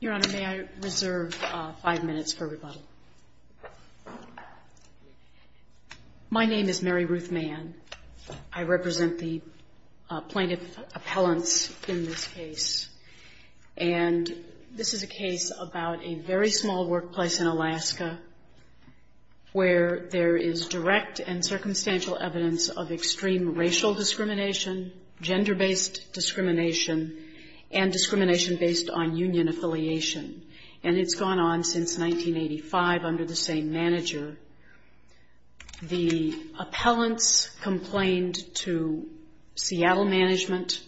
Your Honor, may I reserve five minutes for rebuttal? My name is Mary Ruth Mann. I represent the plaintiff appellants in this case. And this is a case about a very small workplace in Alaska where there is direct and circumstantial evidence of extreme racial discrimination, gender-based discrimination, and discrimination based on union affiliation. And it's gone on since 1985 under the same manager. The appellants complained to Seattle Management.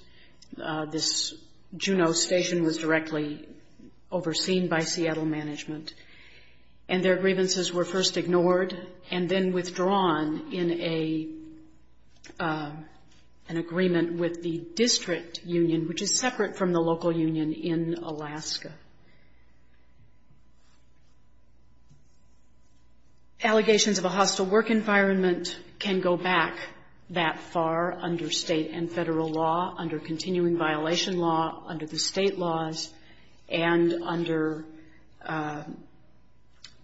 This Juneau station was directly overseen by Seattle Management. And their grievances were first ignored and then withdrawn in an agreement with the district union, which is separate from the local union in Alaska. Allegations of a hostile work environment can go back that far under state and federal law, under continuing violation law, under the state laws, and under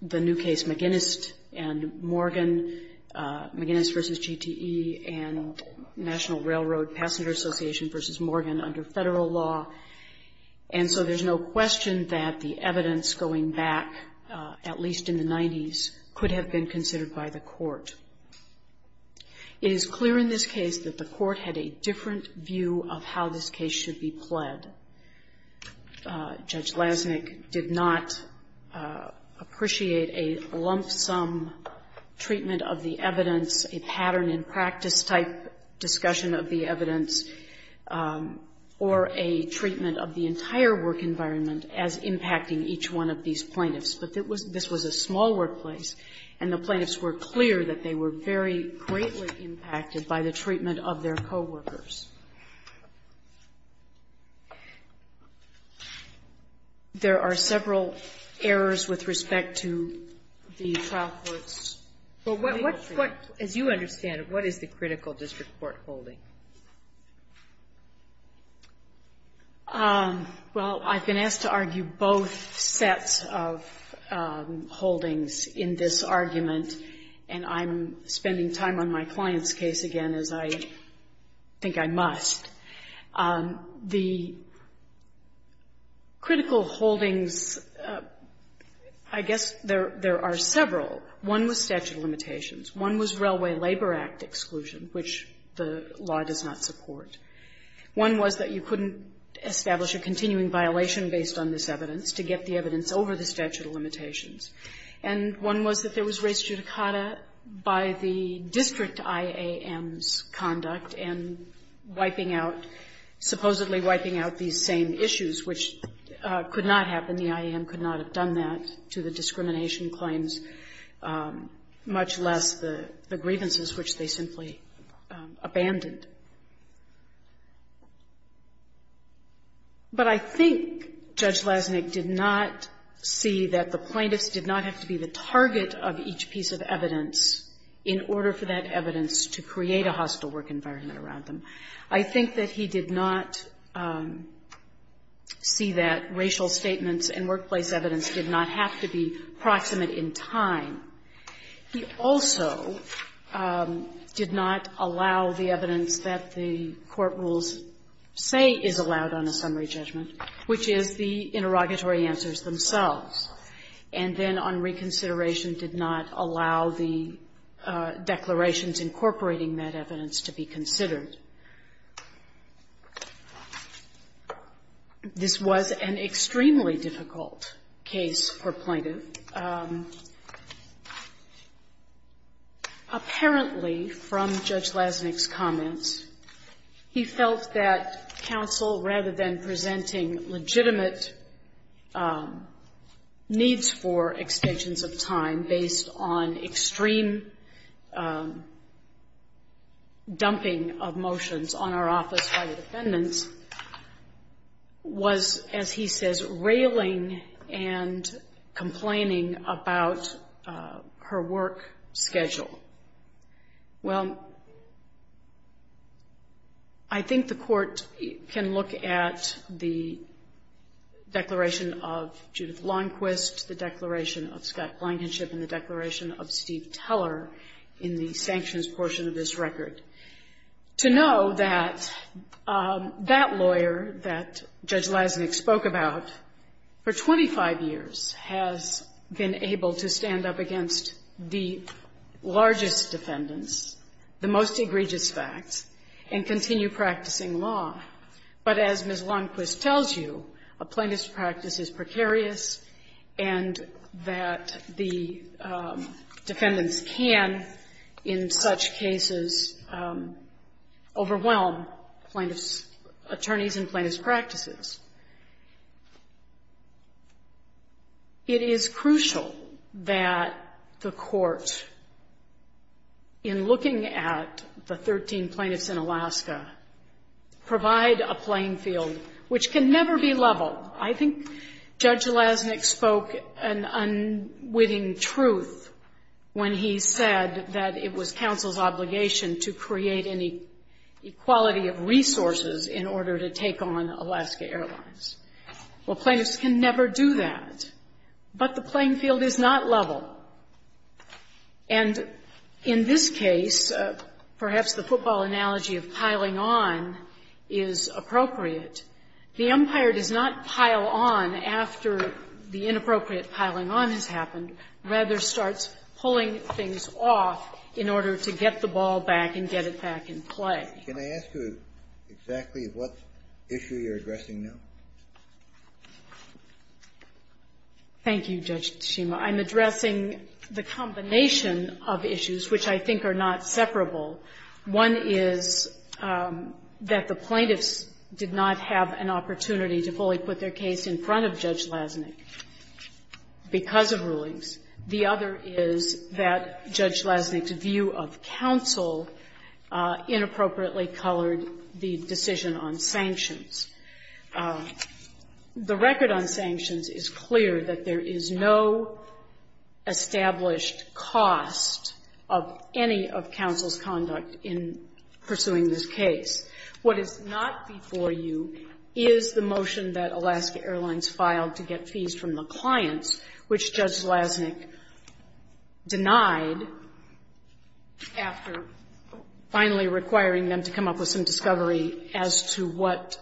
the new case McGinnis and Morgan, McGinnis v. GTE, and National Railroad Passenger Association v. Morgan under federal law. And so there's no question that the evidence going back, at least in the 90s, could have been considered by the court. It is clear in this case that the court had a different view of how this case should be pled. Judge Lasnik did not appreciate a lump-sum treatment of the evidence, a pattern-in-practice-type discussion of the evidence, or a treatment of the entire work environment as impacting each one of these plaintiffs. But this was a small workplace, and the plaintiffs were clear that they were very greatly impacted by the treatment of their co-workers. There are several errors with respect to the trial court's legal treatment. Sotomayor, as you understand it, what is the critical district court holding? Well, I've been asked to argue both sets of holdings in this argument, and I'm spending time on my client's case again, as I think I must. The critical holdings, I guess, there are several. One was statute of limitations. One was Railway Labor Act exclusion, which the law does not support. One was that you couldn't establish a continuing violation based on this evidence to get the evidence over the statute of limitations. And one was that there was res judicata by the district IAM's conduct in wiping out, supposedly wiping out these same issues, which could not happen. The IAM could not have done that to the discrimination claims, much less the grievances, which they simply abandoned. But I think Judge Lasnik did not see that the plaintiffs did not have to be the target of each piece of evidence in order for that evidence to create a hostile work environment around them. I think that he did not see that racial statements and workplace evidence did not have to be proximate in time. He also did not allow the evidence that the court rules say is allowed on a summary judgment, which is the interrogatory answers themselves. And then on reconsideration did not allow the declarations incorporating that evidence to be considered. This was an extremely difficult case for plaintiff. Apparently, from Judge Lasnik's comments, he felt that counsel, rather than presenting legitimate needs for extensions of time based on extreme dumping of motions on our office by the defendants, was, as he says, railing and complaining about her work schedule. Well, I think the Court can look at the declaration of Judith Longquist, the declaration of Scott Blankenship, and the declaration of Steve Teller in the sanctions portion of this record to know that that lawyer that Judge Lasnik spoke about for 25 years has been able to stand you, a plaintiff's practice is precarious and that the defendants can, in such cases, overwhelm plaintiff's attorneys and plaintiff's practices. It is crucial that the Court, in looking at the 13 plaintiffs in Alaska, provide a playing field which can never be leveled. I think Judge Lasnik spoke an unwitting truth when he said that it was counsel's obligation to create any equality of resources in order to take on Alaska Airlines. Well, plaintiffs can never do that, but the playing field is appropriate. The empire does not pile on after the inappropriate piling on has happened, rather starts pulling things off in order to get the ball back and get it back in play. Kennedy. Can I ask you exactly what issue you're addressing now? Thank you, Judge Tsushima. I'm addressing the combination of issues which I think are not separable. One is that the plaintiffs did not have an opportunity to fully put their case in front of Judge Lasnik because of rulings. The other is that Judge Lasnik's view of counsel inappropriately colored the decision on sanctions. The record on sanctions is clear that there is no established cost of any of counsel's conduct in pursuing this case. What is not before you is the motion that Alaska Airlines filed to get fees from the clients, which Judge Lasnik denied after finally requiring them to come up with some discovery as to what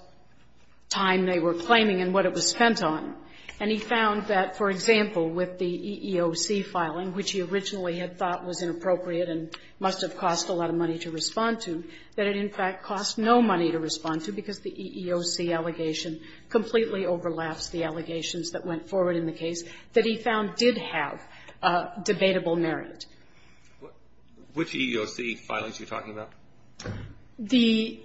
time they were claiming and what it was spent on. And he found that, for example, with the EEOC filing, which he originally had thought was inappropriate and must have cost a lot of money to respond to, that it, in fact, cost no money to respond to because the EEOC allegation completely overlaps the allegations that went forward in the case, that he found did have debatable merit. Which EEOC filings are you talking about? The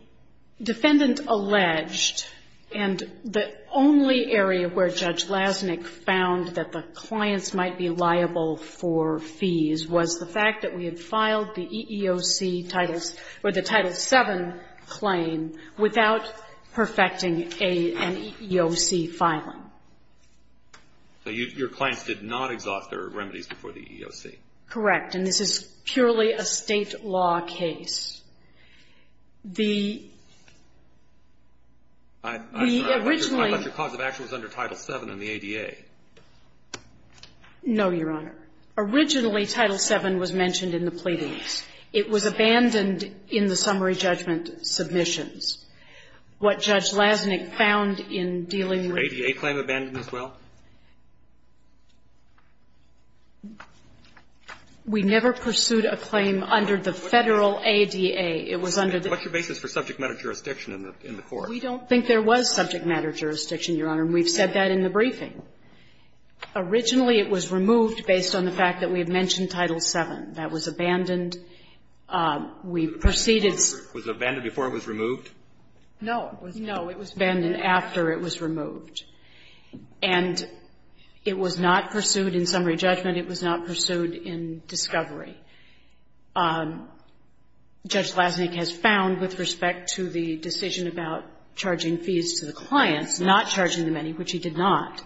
defendant alleged, and the only area where Judge Lasnik found that the clients might be liable for fees was the fact that we had filed the EEOC titles, or the Title VII claim, without perfecting an EEOC filing. So your clients did not exhaust their remedies before the EEOC? Correct. And this is purely a State law case. The originally — I'm sorry. I thought your cause of action was under Title VII in the ADA. No, Your Honor. Originally, Title VII was mentioned in the pleadings. It was abandoned in the summary judgment submissions. What Judge Lasnik found in dealing with — Was your ADA claim abandoned as well? We never pursued a claim under the Federal ADA. It was under the — What's your basis for subject matter jurisdiction in the court? We don't think there was subject matter jurisdiction, Your Honor, and we've said that in the briefing. Originally, it was removed based on the fact that we had mentioned Title VII. That was abandoned. We proceeded — Was it abandoned before it was removed? No, it was — No, it was abandoned after it was removed. And it was not pursued in summary judgment. It was not pursued in discovery. Judge Lasnik has found, with respect to the decision about charging fees to the clients, not charging them any, which he did not,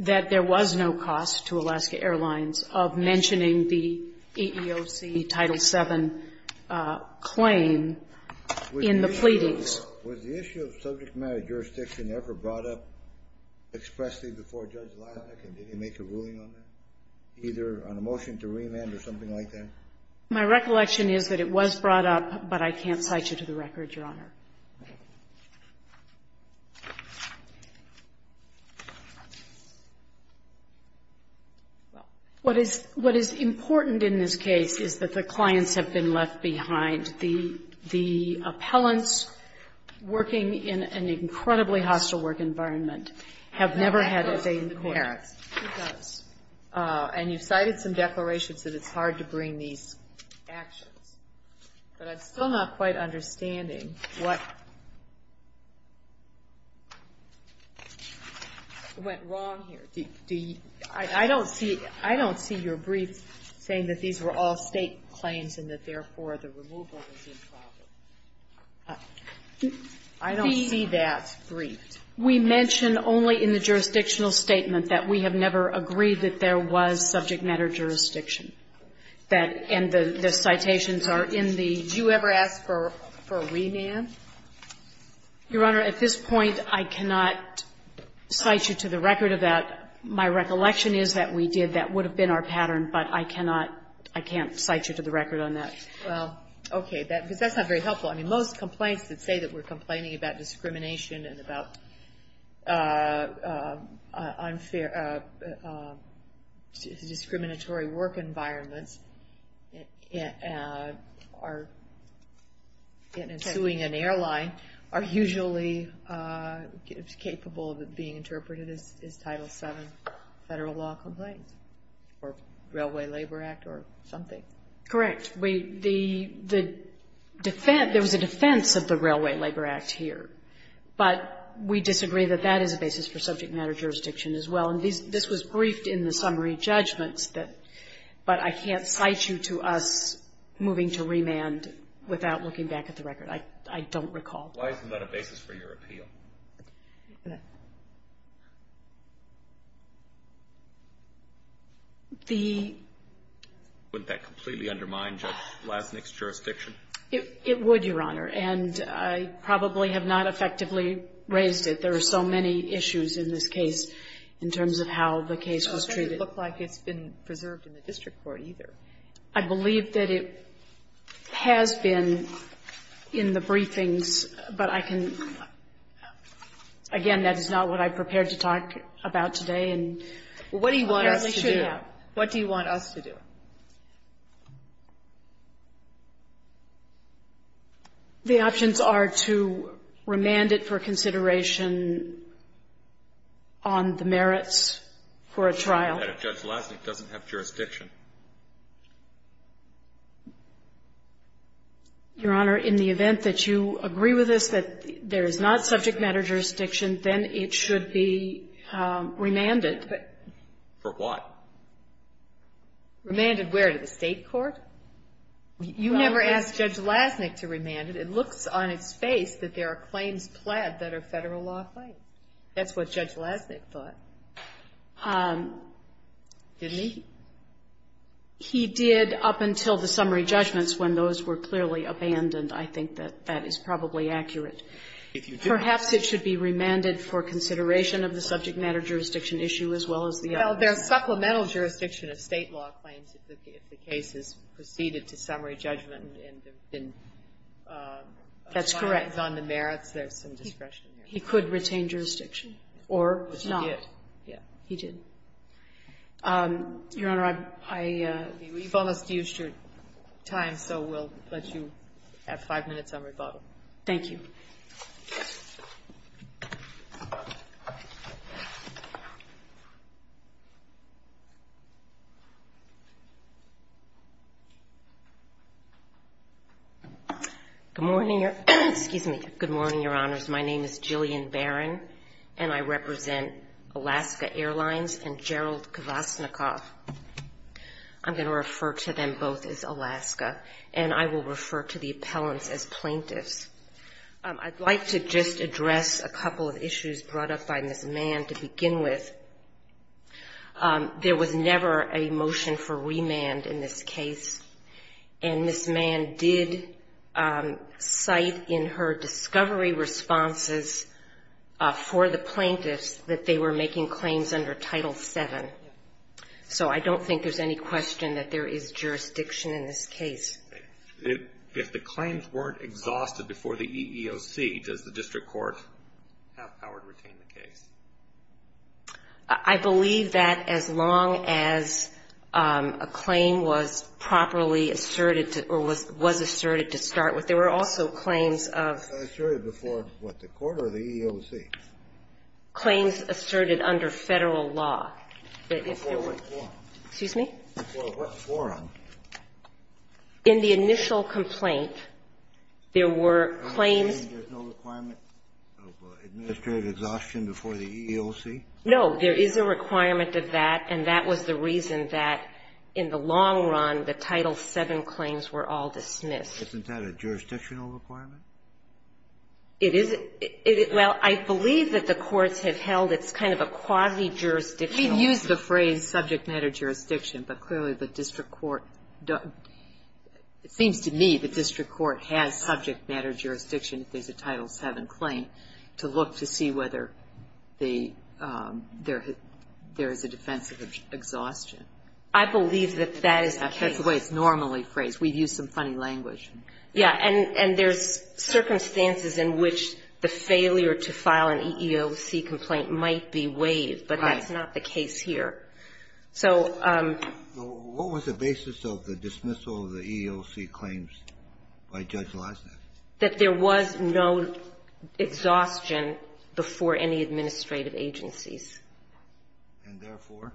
that there was no cost to Alaska Airlines of mentioning the EEOC Title VII claim in the pleadings. Was the issue of subject matter jurisdiction ever brought up expressly before Judge Lasnik, and did he make a ruling on that, either on a motion to remand or something like that? My recollection is that it was brought up, but I can't cite you to the record, Your Honor. Well, what is — what is important in this case is that the clients have been left behind. The — the appellants working in an incredibly hostile work environment have never had a say in the court. No, that goes to the parents. It does. And you've cited some declarations that it's hard to bring these actions. What went wrong here? Do you — I don't see — I don't see your brief saying that these were all State claims and that, therefore, the removal was improper. I don't see that briefed. We mention only in the jurisdictional statement that we have never agreed that there was subject matter jurisdiction. That — and the citations are in the — Did you ever ask for remand? Your Honor, at this point, I cannot cite you to the record of that. My recollection is that we did. That would have been our pattern, but I cannot — I can't cite you to the record on that. Well, okay. That — because that's not very helpful. I mean, most complaints that say that we're complaining about discrimination and about unfair — discriminatory work environments are — in suing an airline are usually capable of being interpreted as Title VII Federal law complaints or Railway Labor Act or something. Correct. We — the defense — there was a defense of the Railway Labor Act here, but we disagree that that is a basis for subject matter jurisdiction as well. And these — this was briefed in the summary judgments that — but I can't cite you to us moving to remand without looking back at the record. I don't recall. Why isn't that a basis for your appeal? The — Wouldn't that completely undermine Judge Lassnick's jurisdiction? It would, Your Honor. And I probably have not effectively raised it. There are so many issues in this case in terms of how the case was treated. It doesn't look like it's been preserved in the district court, either. I believe that it has been in the briefings, but I can — again, that is not what I prepared to talk about today and compare us to do. What do you want us to do? The options are to remand it for consideration on the merits for a trial. But if Judge Lassnick doesn't have jurisdiction. Your Honor, in the event that you agree with us that there is not subject matter jurisdiction, then it should be remanded. For what? Remanded where? To the state court? You never asked Judge Lassnick to remand it. It looks on its face that there are claims pled that are Federal law-affirmed. That's what Judge Lassnick thought. Didn't he? He did up until the summary judgments when those were clearly abandoned. I think that that is probably accurate. If you do — Perhaps it should be remanded for consideration of the subject matter jurisdiction issue as well as the other. Well, there's supplemental jurisdiction of State law claims if the case is preceded to summary judgment and there have been assignments on the merits. That's correct. There's some discretion there. He could retain jurisdiction or not. Which he did. Yeah, he did. Your Honor, I — We've almost used your time, so we'll let you have five minutes on rebuttal. Thank you. Good morning, Your — excuse me. Good morning, Your Honors. My name is Jillian Barron, and I represent Alaska Airlines and Gerald Kvasnikoff. I'm going to refer to them both as Alaska, and I will refer to the appellants as plaintiffs. I'd like to just address a couple of issues brought up by Ms. Mann to begin with. There was never a motion for remand in this case, and Ms. Mann did cite in her discovery responses for the plaintiffs that they were making claims under Title VII. So I don't think there's any question that there is jurisdiction in this case. If the claims weren't exhausted before the EEOC, does the district court have power to retain the case? I believe that as long as a claim was properly asserted to — or was asserted to start with. There were also claims of — Asserted before, what, the court or the EEOC? Claims asserted under Federal law. Before what forum? Excuse me? Before what forum? In the initial complaint, there were claims — Are you saying there's no requirement of administrative exhaustion before the EEOC? No. There is a requirement of that, and that was the reason that in the long run, the Title VII claims were all dismissed. Isn't that a jurisdictional requirement? It is. Well, I believe that the courts have held it's kind of a quasi-jurisdictional We've used the phrase subject matter jurisdiction, but clearly the district court — it seems to me the district court has subject matter jurisdiction if there's a Title VII claim to look to see whether there is a defense of exhaustion. I believe that that is the case. That's the way it's normally phrased. We've used some funny language. Yeah, and there's circumstances in which the failure to file an EEOC complaint might be waived, but that's not the case here. So — What was the basis of the dismissal of the EEOC claims by Judge Leibniz? That there was no exhaustion before any administrative agencies. And therefore?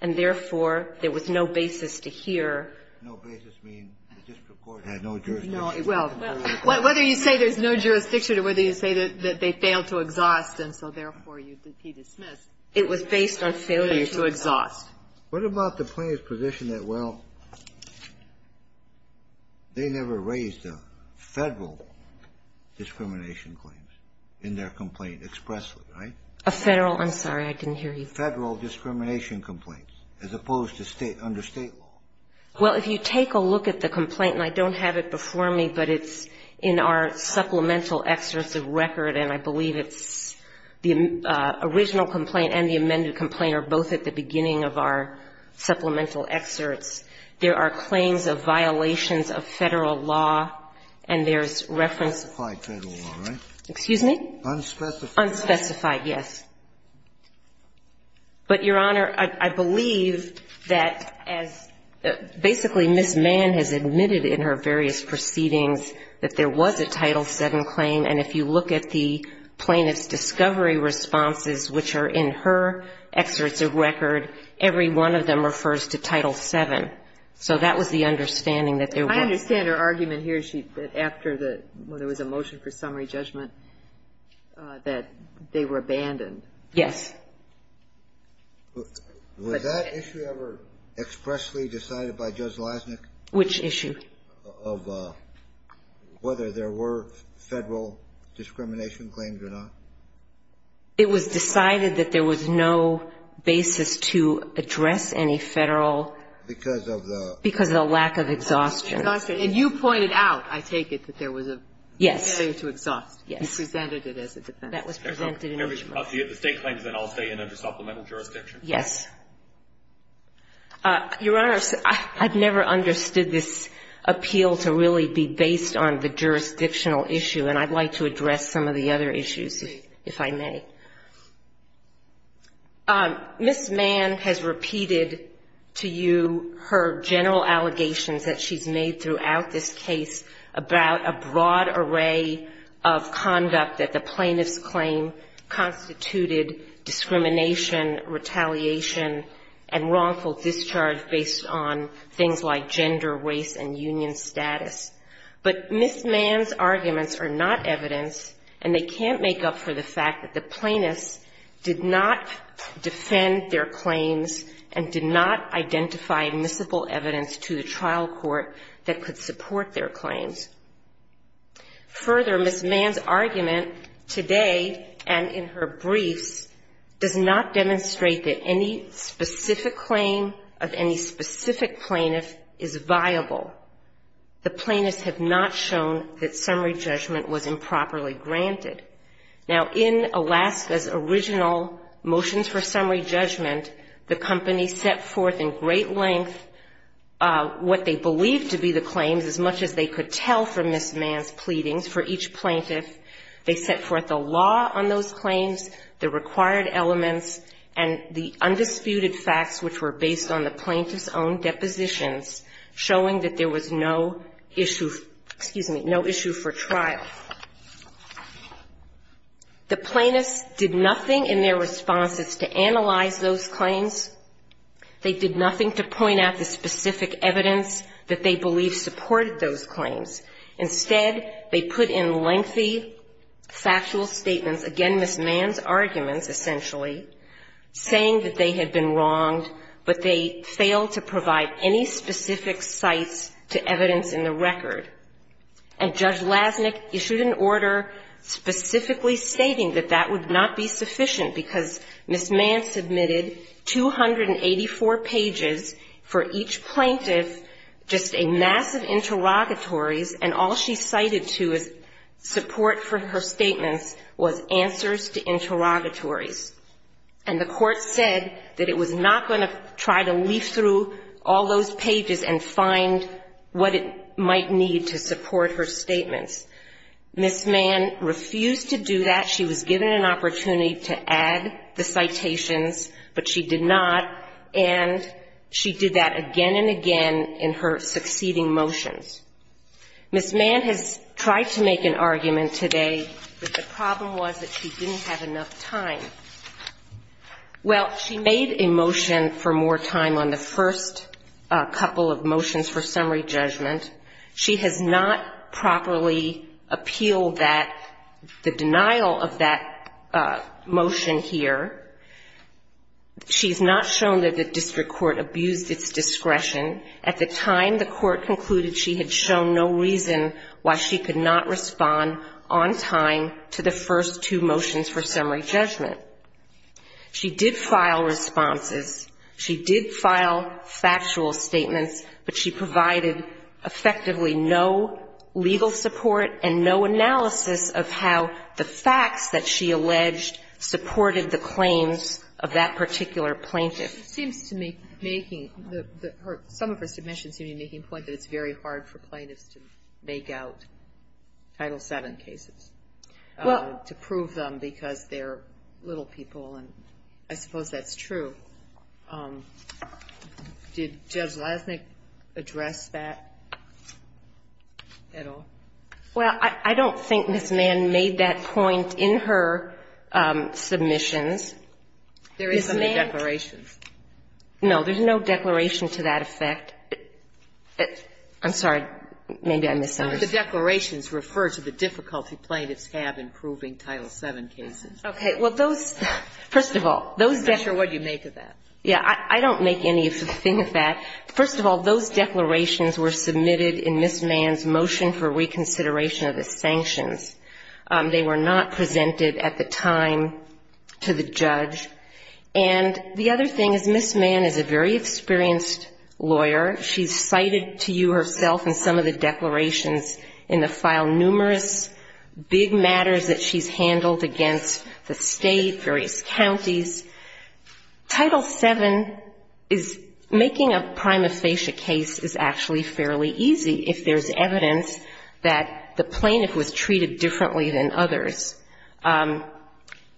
And therefore, there was no basis to hear — No basis means the district court had no jurisdiction. No. Well, whether you say there's no jurisdiction or whether you say that they failed to exhaust, and so therefore he dismissed. It was based on failure to exhaust. What about the plaintiff's position that, well, they never raised a Federal discrimination claim in their complaint expressly, right? A Federal? I'm sorry, I didn't hear you. Federal discrimination complaint, as opposed to under State law. Well, if you take a look at the complaint, and I don't have it before me, but it's in our supplemental excerpts of record, and I believe it's — the original complaint and the amended complaint are both at the beginning of our supplemental excerpts. There are claims of violations of Federal law, and there's reference — Unspecified Federal law, right? Excuse me? Unspecified. Unspecified, yes. But, Your Honor, I believe that as — basically, Ms. Mann has admitted in her various proceedings that there was a Title VII claim. And if you look at the plaintiff's discovery responses, which are in her excerpts of record, every one of them refers to Title VII. So that was the understanding that there was. I understand her argument here, that after the — when there was a motion for summary judgment, that they were abandoned. Yes. Was that issue ever expressly decided by Judge Lasnik? Which issue? Of whether there were Federal discrimination claims or not? It was decided that there was no basis to address any Federal — Because of the — Because of the lack of exhaustion. Exhaustion. And you pointed out, I take it, that there was a failure to exhaust. Yes. You presented it as a defense. That was presented in each one. Okay. So if the State claims, then I'll stay in under supplemental jurisdiction? Yes. Your Honor, I've never understood this appeal to really be based on the jurisdictional issue, and I'd like to address some of the other issues, if I may. Ms. Mann has repeated to you her general allegations that she's made throughout this case about a broad array of conduct that the plaintiff's claim constituted discrimination, retaliation, and wrongful discharge based on things like gender, race, and union status. But Ms. Mann's arguments are not evidence, and they can't make up for the fact that the plaintiffs did not defend their claims and did not identify admissible evidence to the trial court that could support their claims. Further, Ms. Mann's argument today and in her briefs does not demonstrate that any specific claim of any specific plaintiff is viable. The plaintiffs have not shown that summary judgment was improperly granted. Now, in Alaska's original motions for summary judgment, the company set forth in trial for Ms. Mann's pleadings for each plaintiff. They set forth a law on those claims, the required elements, and the undisputed facts which were based on the plaintiff's own depositions, showing that there was no issue, excuse me, no issue for trial. The plaintiffs did nothing in their responses to analyze those claims. They did nothing to point out the specific evidence that they believe supported those claims. Instead, they put in lengthy factual statements, again, Ms. Mann's arguments essentially, saying that they had been wronged, but they failed to provide any specific sites to evidence in the record. And Judge Lasnik issued an order specifically stating that that would not be sufficient because Ms. Mann submitted 284 pages for each plaintiff, just a mass of interrogatories, and all she cited to as support for her statements was answers to interrogatories. And the court said that it was not going to try to leaf through all those pages and find what it might need to support her statements. Ms. Mann refused to do that. She was given an opportunity to add the citations, but she did not. And she did that again and again in her succeeding motions. Ms. Mann has tried to make an argument today, but the problem was that she didn't have enough time. Well, she made a motion for more time on the first couple of motions for summary judgment. She has not properly appealed that, the denial of that motion here. She has not shown that the district court abused its discretion. At the time, the court concluded she had shown no reason why she could not respond on time to the first two motions for summary judgment. She did file responses. She did file factual statements, but she provided effectively no legal support and no analysis of how the facts that she alleged supported the claims of that particular plaintiff. It seems to me, making the her, some of her submissions seem to be making the point that it's very hard for plaintiffs to make out Title VII cases, to prove them because they're little people. And I suppose that's true. Did Judge Lasnik address that at all? Well, I don't think Ms. Mann made that point in her submissions. There isn't a declaration. No, there's no declaration to that effect. I'm sorry. Maybe I misunderstood. The declarations refer to the difficulty plaintiffs have in proving Title VII cases. Okay. Well, those, first of all, those declarations. I'm not sure what you make of that. Yeah. I don't make anything of that. First of all, those declarations were submitted in Ms. Mann's motion for reconsideration of the sanctions. They were not presented at the time to the judge. And the other thing is Ms. Mann is a very experienced lawyer. She's cited to you herself in some of the declarations in the file numerous big matters that she's handled against the state, various counties. Title VII is making a prima facie case is actually fairly easy if there's evidence that the plaintiff was treated differently than others.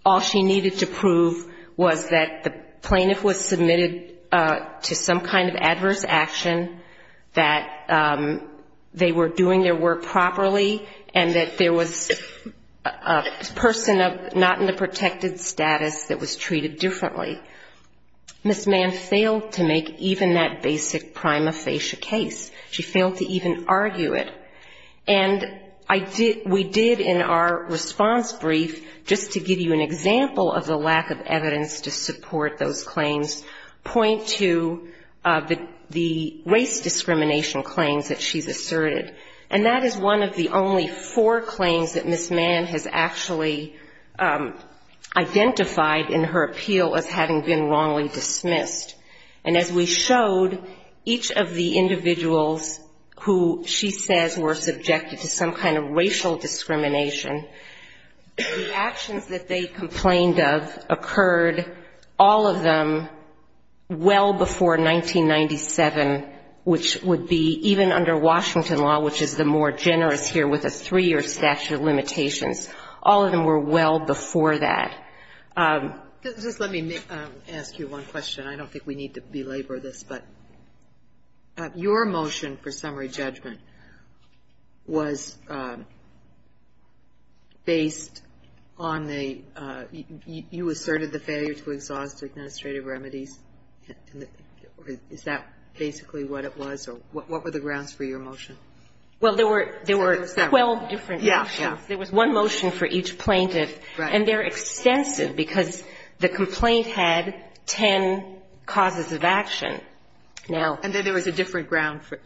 All she needed to prove was that the plaintiff was submitted to some kind of adverse action, that they were doing their work properly, and that there was a person not in the protected status that was treated differently. Ms. Mann failed to make even that basic prima facie case. She failed to even argue it. And we did in our response brief, just to give you an example of the lack of evidence to support those race discrimination claims that she's asserted. And that is one of the only four claims that Ms. Mann has actually identified in her appeal as having been wrongly dismissed. And as we showed, each of the individuals who she says were subjected to some kind of racial discrimination, the actions that they complained of occurred, all of them well before 1997, which would be even under Washington law, which is the more generous here with a three-year statute of limitations. All of them were well before that. Just let me ask you one question. I don't think we need to belabor this, but your motion for summary judgment was based on the you asserted the failure to exhaust administrative remedies. Is that basically what it was? What were the grounds for your motion? Well, there were 12 different actions. There was one motion for each plaintiff. And they're extensive, because the complaint had ten causes of action. And then there was a different ground for it.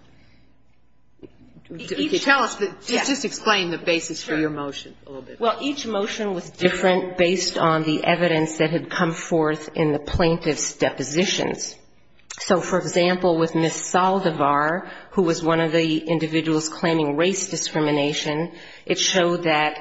Just explain the basis for your motion a little bit. Well, each motion was different based on the evidence that had come forth in the plaintiff's depositions. So, for example, with Ms. Saldivar, who was one of the individuals claiming race discrimination, it showed that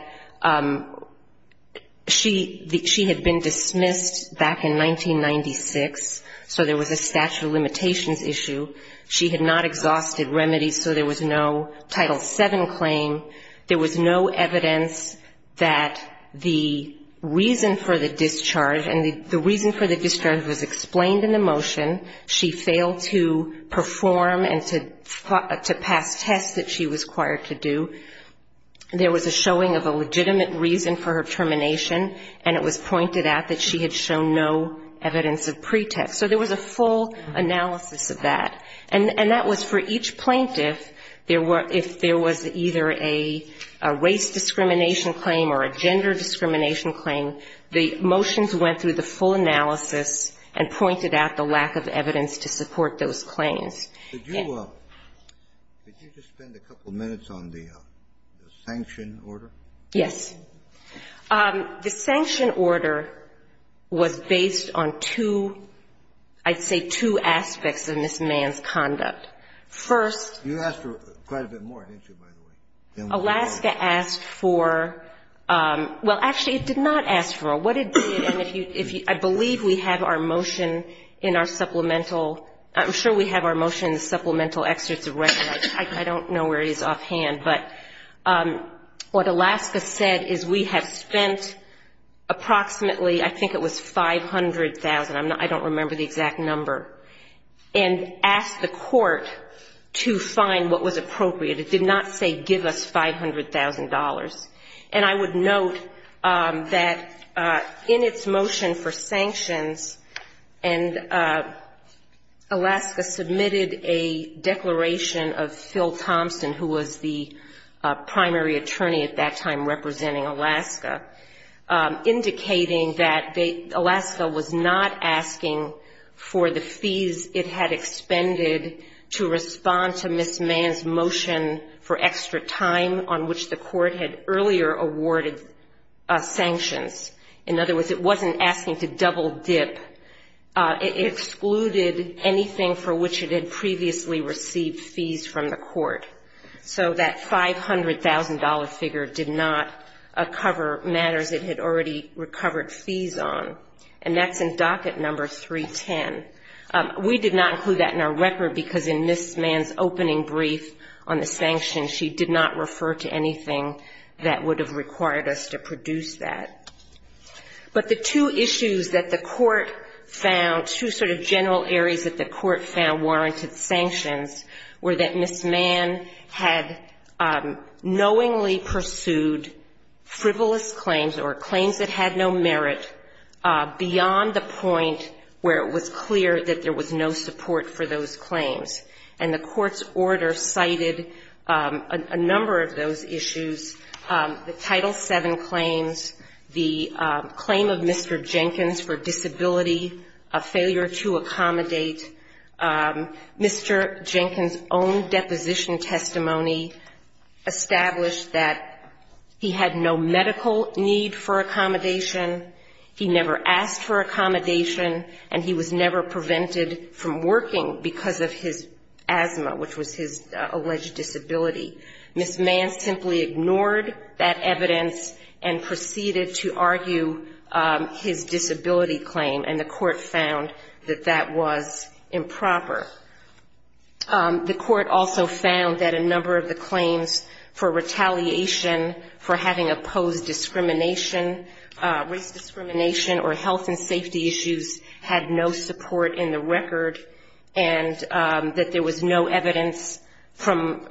she had been dismissed back in 1996, so there was a statute of limitations issue. She had not exhausted remedies, so there was no Title VII claim. There was no evidence that the reason for the discharge, and the reason for the discharge was explained in the motion. She failed to perform and to pass tests that she was required to do. There was a showing of a legitimate reason for her termination, and it was pointed out that she had shown no evidence of pretext. So there was a full analysis of that. And that was for each plaintiff. If there was either a race discrimination claim or a gender discrimination claim, the motions went through the full analysis and pointed out the lack of evidence to support those claims. Did you just spend a couple minutes on the sanction order? Yes. The sanction order was based on two, I'd say two aspects of Ms. Mann's motion. First, you asked for quite a bit more, didn't you, by the way? Alaska asked for, well, actually, it did not ask for more. What it did, and if you, I believe we have our motion in our supplemental, I'm sure we have our motion in the supplemental excerpts of record. I don't know where it is offhand, but what Alaska said is we have spent approximately, I think it was $500,000. I don't remember the exact number, and asked the court to find what was appropriate. It did not say give us $500,000. And I would note that in its motion for sanctions, and Alaska submitted a declaration of Phil Thompson, who was the primary attorney at that time representing Alaska, indicating that Alaska was not asking for more than $500,000. It was not asking for the fees it had expended to respond to Ms. Mann's motion for extra time on which the court had earlier awarded sanctions. In other words, it wasn't asking to double dip. It excluded anything for which it had previously received fees from the court. And it did not include that in our record, because in Ms. Mann's opening brief on the sanctions, she did not refer to anything that would have required us to produce that. But the two issues that the court found, two sort of general areas that the court found warranted sanctions were that Ms. Mann had knowingly pursued frivolous claims, or claims that had no merit, beyond the point that Ms. Mann had made where it was clear that there was no support for those claims. And the court's order cited a number of those issues, the Title VII claims, the claim of Mr. Jenkins for disability, a failure to accommodate. Mr. Jenkins' own deposition testimony established that he had no medical need for accommodation. He never asked for accommodation. And he was never prevented from working because of his asthma, which was his alleged disability. Ms. Mann simply ignored that evidence and proceeded to argue his disability claim, and the court found that that was improper. The court also found that a number of the claims for retaliation, for having opposed discrimination, race discrimination, or health and safety issues, had no support in the record, and that there was no evidence from,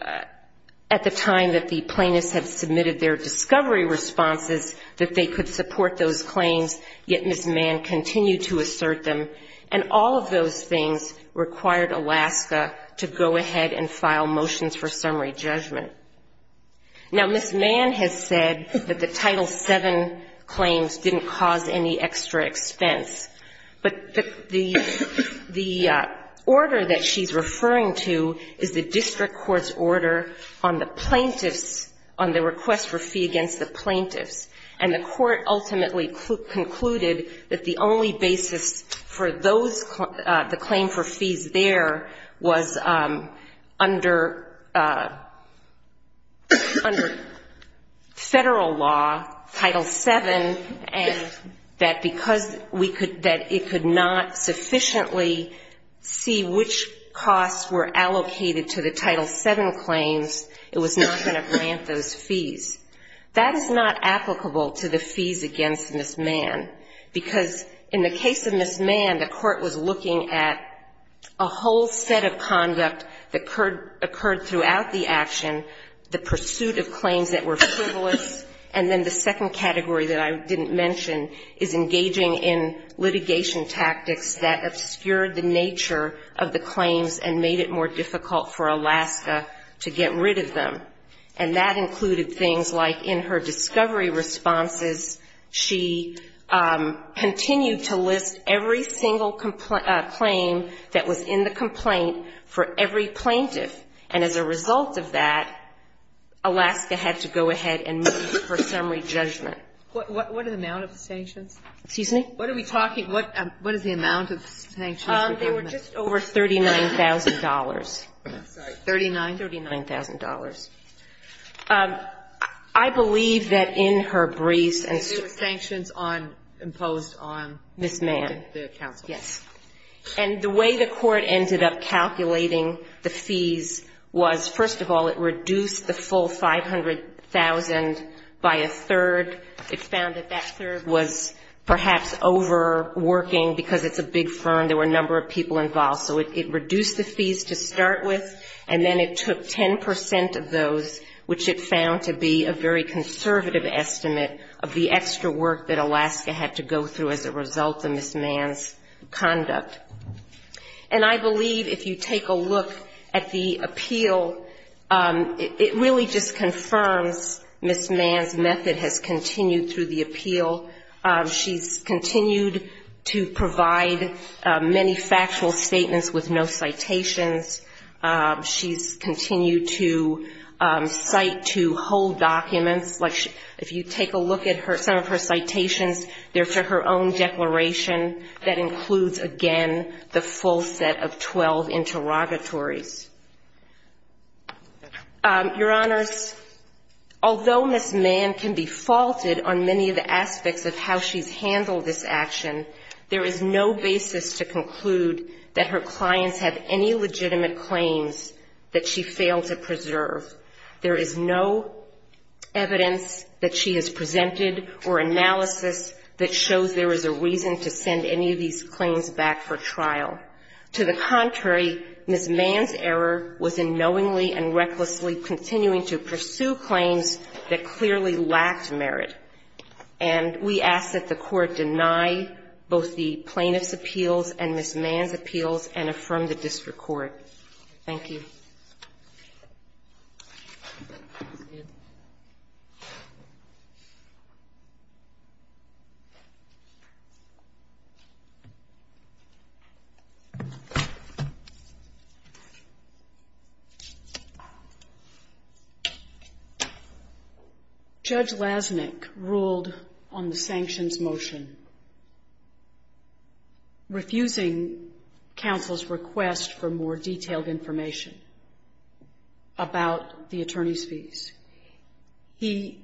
at the time that the plaintiffs had submitted their discovery responses, that they could support those claims, yet Ms. Mann's assertion that those things required Alaska to go ahead and file motions for summary judgment. Now, Ms. Mann has said that the Title VII claims didn't cause any extra expense, but the order that she's referring to is the district court's order on the plaintiffs, on the request for fee against the plaintiffs, and the court ultimately concluded that the only basis for those, the claim for fees there was under federal law, Title VII, and that because we could, that it could not sufficiently see which costs were allocated to the Title VII claims, it was not going to grant those fees. That is not applicable to the fees against Ms. Mann, because in the case of Ms. Mann, the court was looking at a whole set of conduct that occurred throughout the action, the pursuit of claims that were frivolous, and then the second category that I didn't mention is engaging in litigation tactics that obscured the nature of the claims and made it more difficult for Alaska to get rid of them, and that included things like in her discovery responses, she continued to list every single claim that was in the complaint for every plaintiff, and as a result of that, Alaska had to go ahead and move for summary judgment. Sotomayor, what is the amount of the sanctions? There were just over $39,000. $39,000. I believe that in her briefs and statements Ms. Mann. And the way the court ended up calculating the fees was, first of all, it reduced the full $500,000 by a third. It found that that third was perhaps overworking, because it's a big firm. There were a number of people involved. So it reduced the fees to start with, and then it took 10 percent of those, which it found to be a very conservative estimate of the extra work that Alaska had to go through as a result of Ms. Mann's conduct. And I believe if you take a look at the appeal, it really just confirms Ms. Mann's method has continued through the appeal. She's continued to provide many factual statements with no citations. She's continued to cite to whole documents. Like if you take a look at some of her citations, they're for her own declaration. That includes, again, the fact that she's not been charged with any of the charges. And then she's continued to cite to her own declaration the full set of 12 interrogatories. Your Honors, although Ms. Mann can be faulted on many of the aspects of how she's handled this action, there is no basis to conclude that her clients have any legitimate claims that she failed to preserve. There is no evidence that she has presented or analysis that she has presented in the trial. To the contrary, Ms. Mann's error was in knowingly and recklessly continuing to pursue claims that clearly lacked merit. And we ask that the Court deny both the plaintiff's appeals and Ms. Mann's appeals and affirm the district court. Thank you. Judge Lasnik ruled on the sanctions motion, refusing counsel's request for more detailed information about the attorney's fees. He,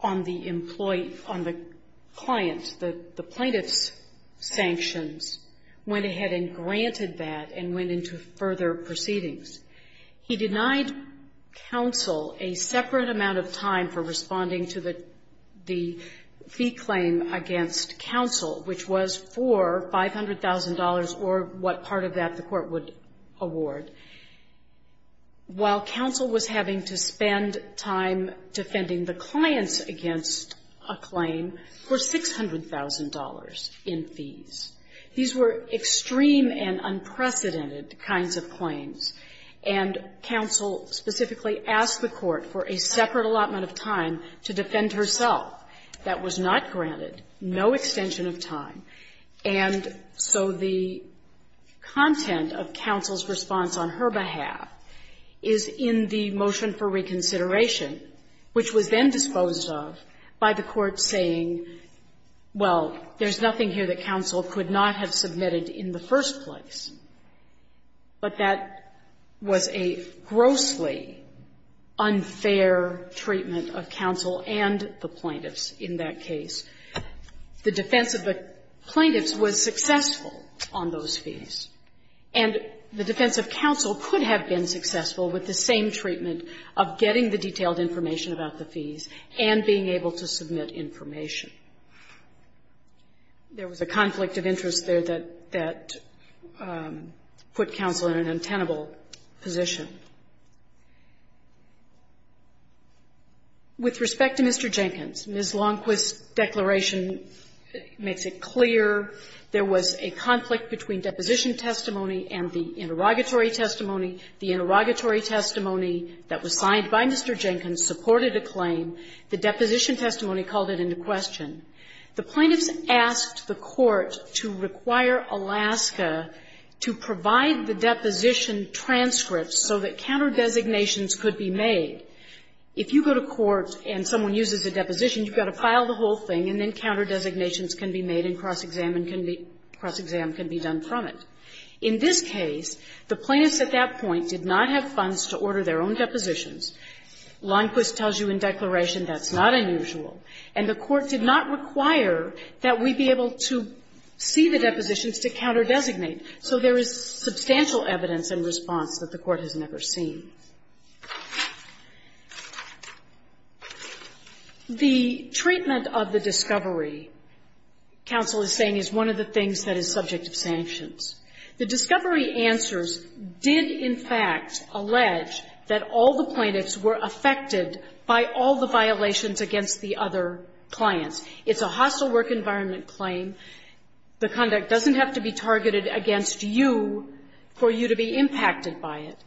on the client's, the plaintiff's sanctions, went on to say that the attorney's fees were not sufficient and that they had been granted that and went into further proceedings. He denied counsel a separate amount of time for responding to the fee claim against counsel, which was for $500,000 or what part of that the court would award, while counsel was having to spend time defending the clients against a claim for $600,000 in fees. These were extreme and unprecedented kinds of claims. And counsel specifically asked the court for a separate allotment of time to defend herself. That was not granted, no extension of time. And so the content of counsel's response on her behalf is in the motion for reconsideration, which was then disposed of by the court saying, well, there's nothing here that counsel could not have submitted in the first place. But that was a grossly unfair treatment of counsel and the plaintiffs in that case. The defense of the plaintiffs was successful on those fees. And the defense of counsel could have been successful with the same treatment of getting the detailed information about the fees and being able to submit information. There was a conflict of interest there that put counsel in an untenable position. With respect to Mr. Jenkins, Ms. Longquist's declaration makes it clear there was a conflict between deposition testimony and the interrogatory testimony. The interrogatory testimony that was signed by Mr. Jenkins supported a claim. The deposition testimony called it into question. The plaintiffs asked the court to require Alaska to provide the deposition transcripts so that counter-designations could be made. If you go to court and someone uses a deposition, you've got to file the whole thing, and then counter-designations can be made and cross-exam can be done from it. In this case, the plaintiffs at that point did not have funds to order their own depositions. Longquist tells you in declaration that's not unusual. And the court did not require that we be able to see the depositions to counter-designate. So there is substantial evidence and response that the court has never seen. The treatment of the discovery, counsel is saying, is one of the things that is subject of sanctions. The discovery answers did, in fact, allege that all the plaintiffs were affected by all the violations against the other clients. It's a hostile work environment claim. The conduct doesn't have to be targeted against you for you to be impacted by it.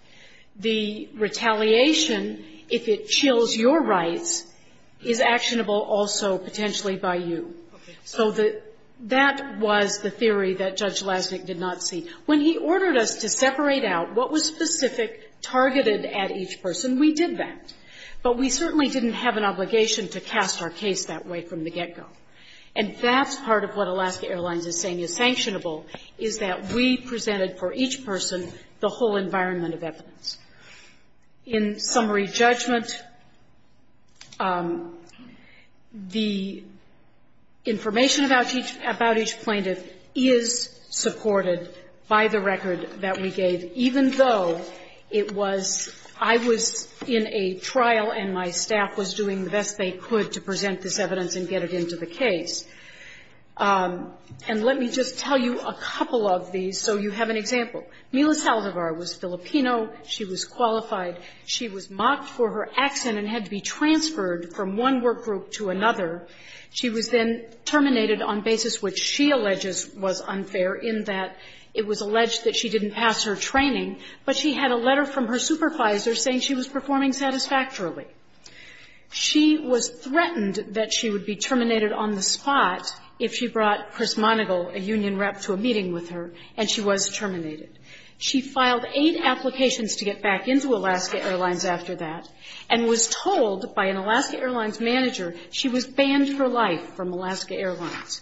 The retaliation, if it chills your rights, is actionable also potentially by you. So that was the theory that Judge Lasnik did not see. When he ordered us to separate out what was specific, targeted at each person, we did that. But we certainly didn't have an obligation to cast our case that way from the get-go. And that's part of what Alaska Airlines is saying is sanctionable, is that we presented for each person the whole environment of evidence. In summary judgment, the information about each plaintiff is supported by the court's judgment, by the record that we gave, even though it was – I was in a trial and my staff was doing the best they could to present this evidence and get it into the case. And let me just tell you a couple of these so you have an example. Mila Saldivar was Filipino. She was qualified. She was mocked for her accent and had to be transferred from one workgroup to another. She was then terminated on basis which she alleges was unfair in that it was alleged that she didn't pass her training, but she had a letter from her supervisor saying she was performing satisfactorily. She was threatened that she would be terminated on the spot if she brought Chris Monigal, a union rep, to a meeting with her, and she was terminated. She filed eight applications to get back into Alaska Airlines after that and was told by an Alaska Airlines manager she was banned for life from Alaska Airlines.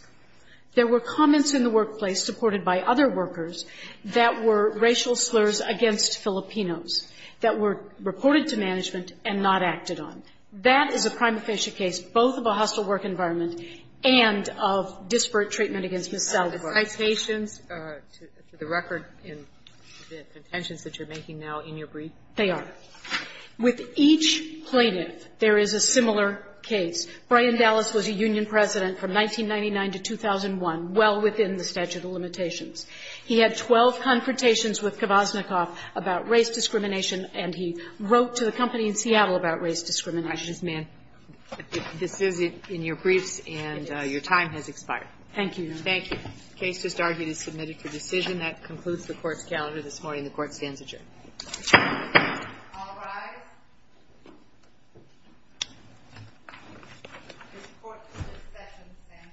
There were comments in the workplace supported by other workers that were racial slurs against Filipinos that were reported to management and not acted on. That is a prima facie case both of a hostile work environment and of disparate treatment against Ms. Saldivar. Kagan. Citations to the record in the contentions that you're making now in your brief? They are. With each plaintiff, there is a similar case. Brian Dallas was a union president from 1999 to 2001, well within the statute of limitations. He had 12 confrontations with Kvasnikoff about race discrimination and he wrote to the company in Seattle about race discrimination. Ms. Mann. This is in your briefs and your time has expired. Thank you, Your Honor. Thank you. The case just argued is submitted for decision. That concludes the Court's calendar this morning. The Court stands adjourned. All rise. The Court is in session.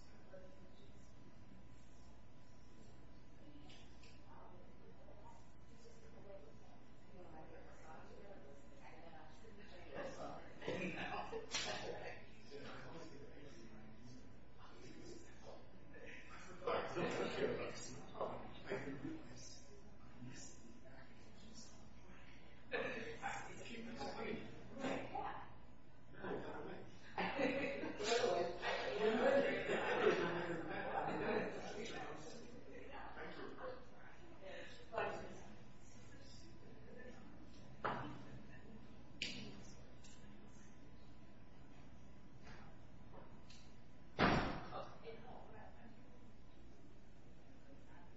Stand adjourned. Stand adjourned. Stand adjourned. Stand adjourned. Stand adjourned. Stand adjourned. Stand adjourned. Stand adjourned. Stand adjourned. Stand adjourned. Stand adjourned. Stand adjourned. stand adjourned all right all right conference all right conference all right uh... uh... uh... uh... uh... uh... uh... uh...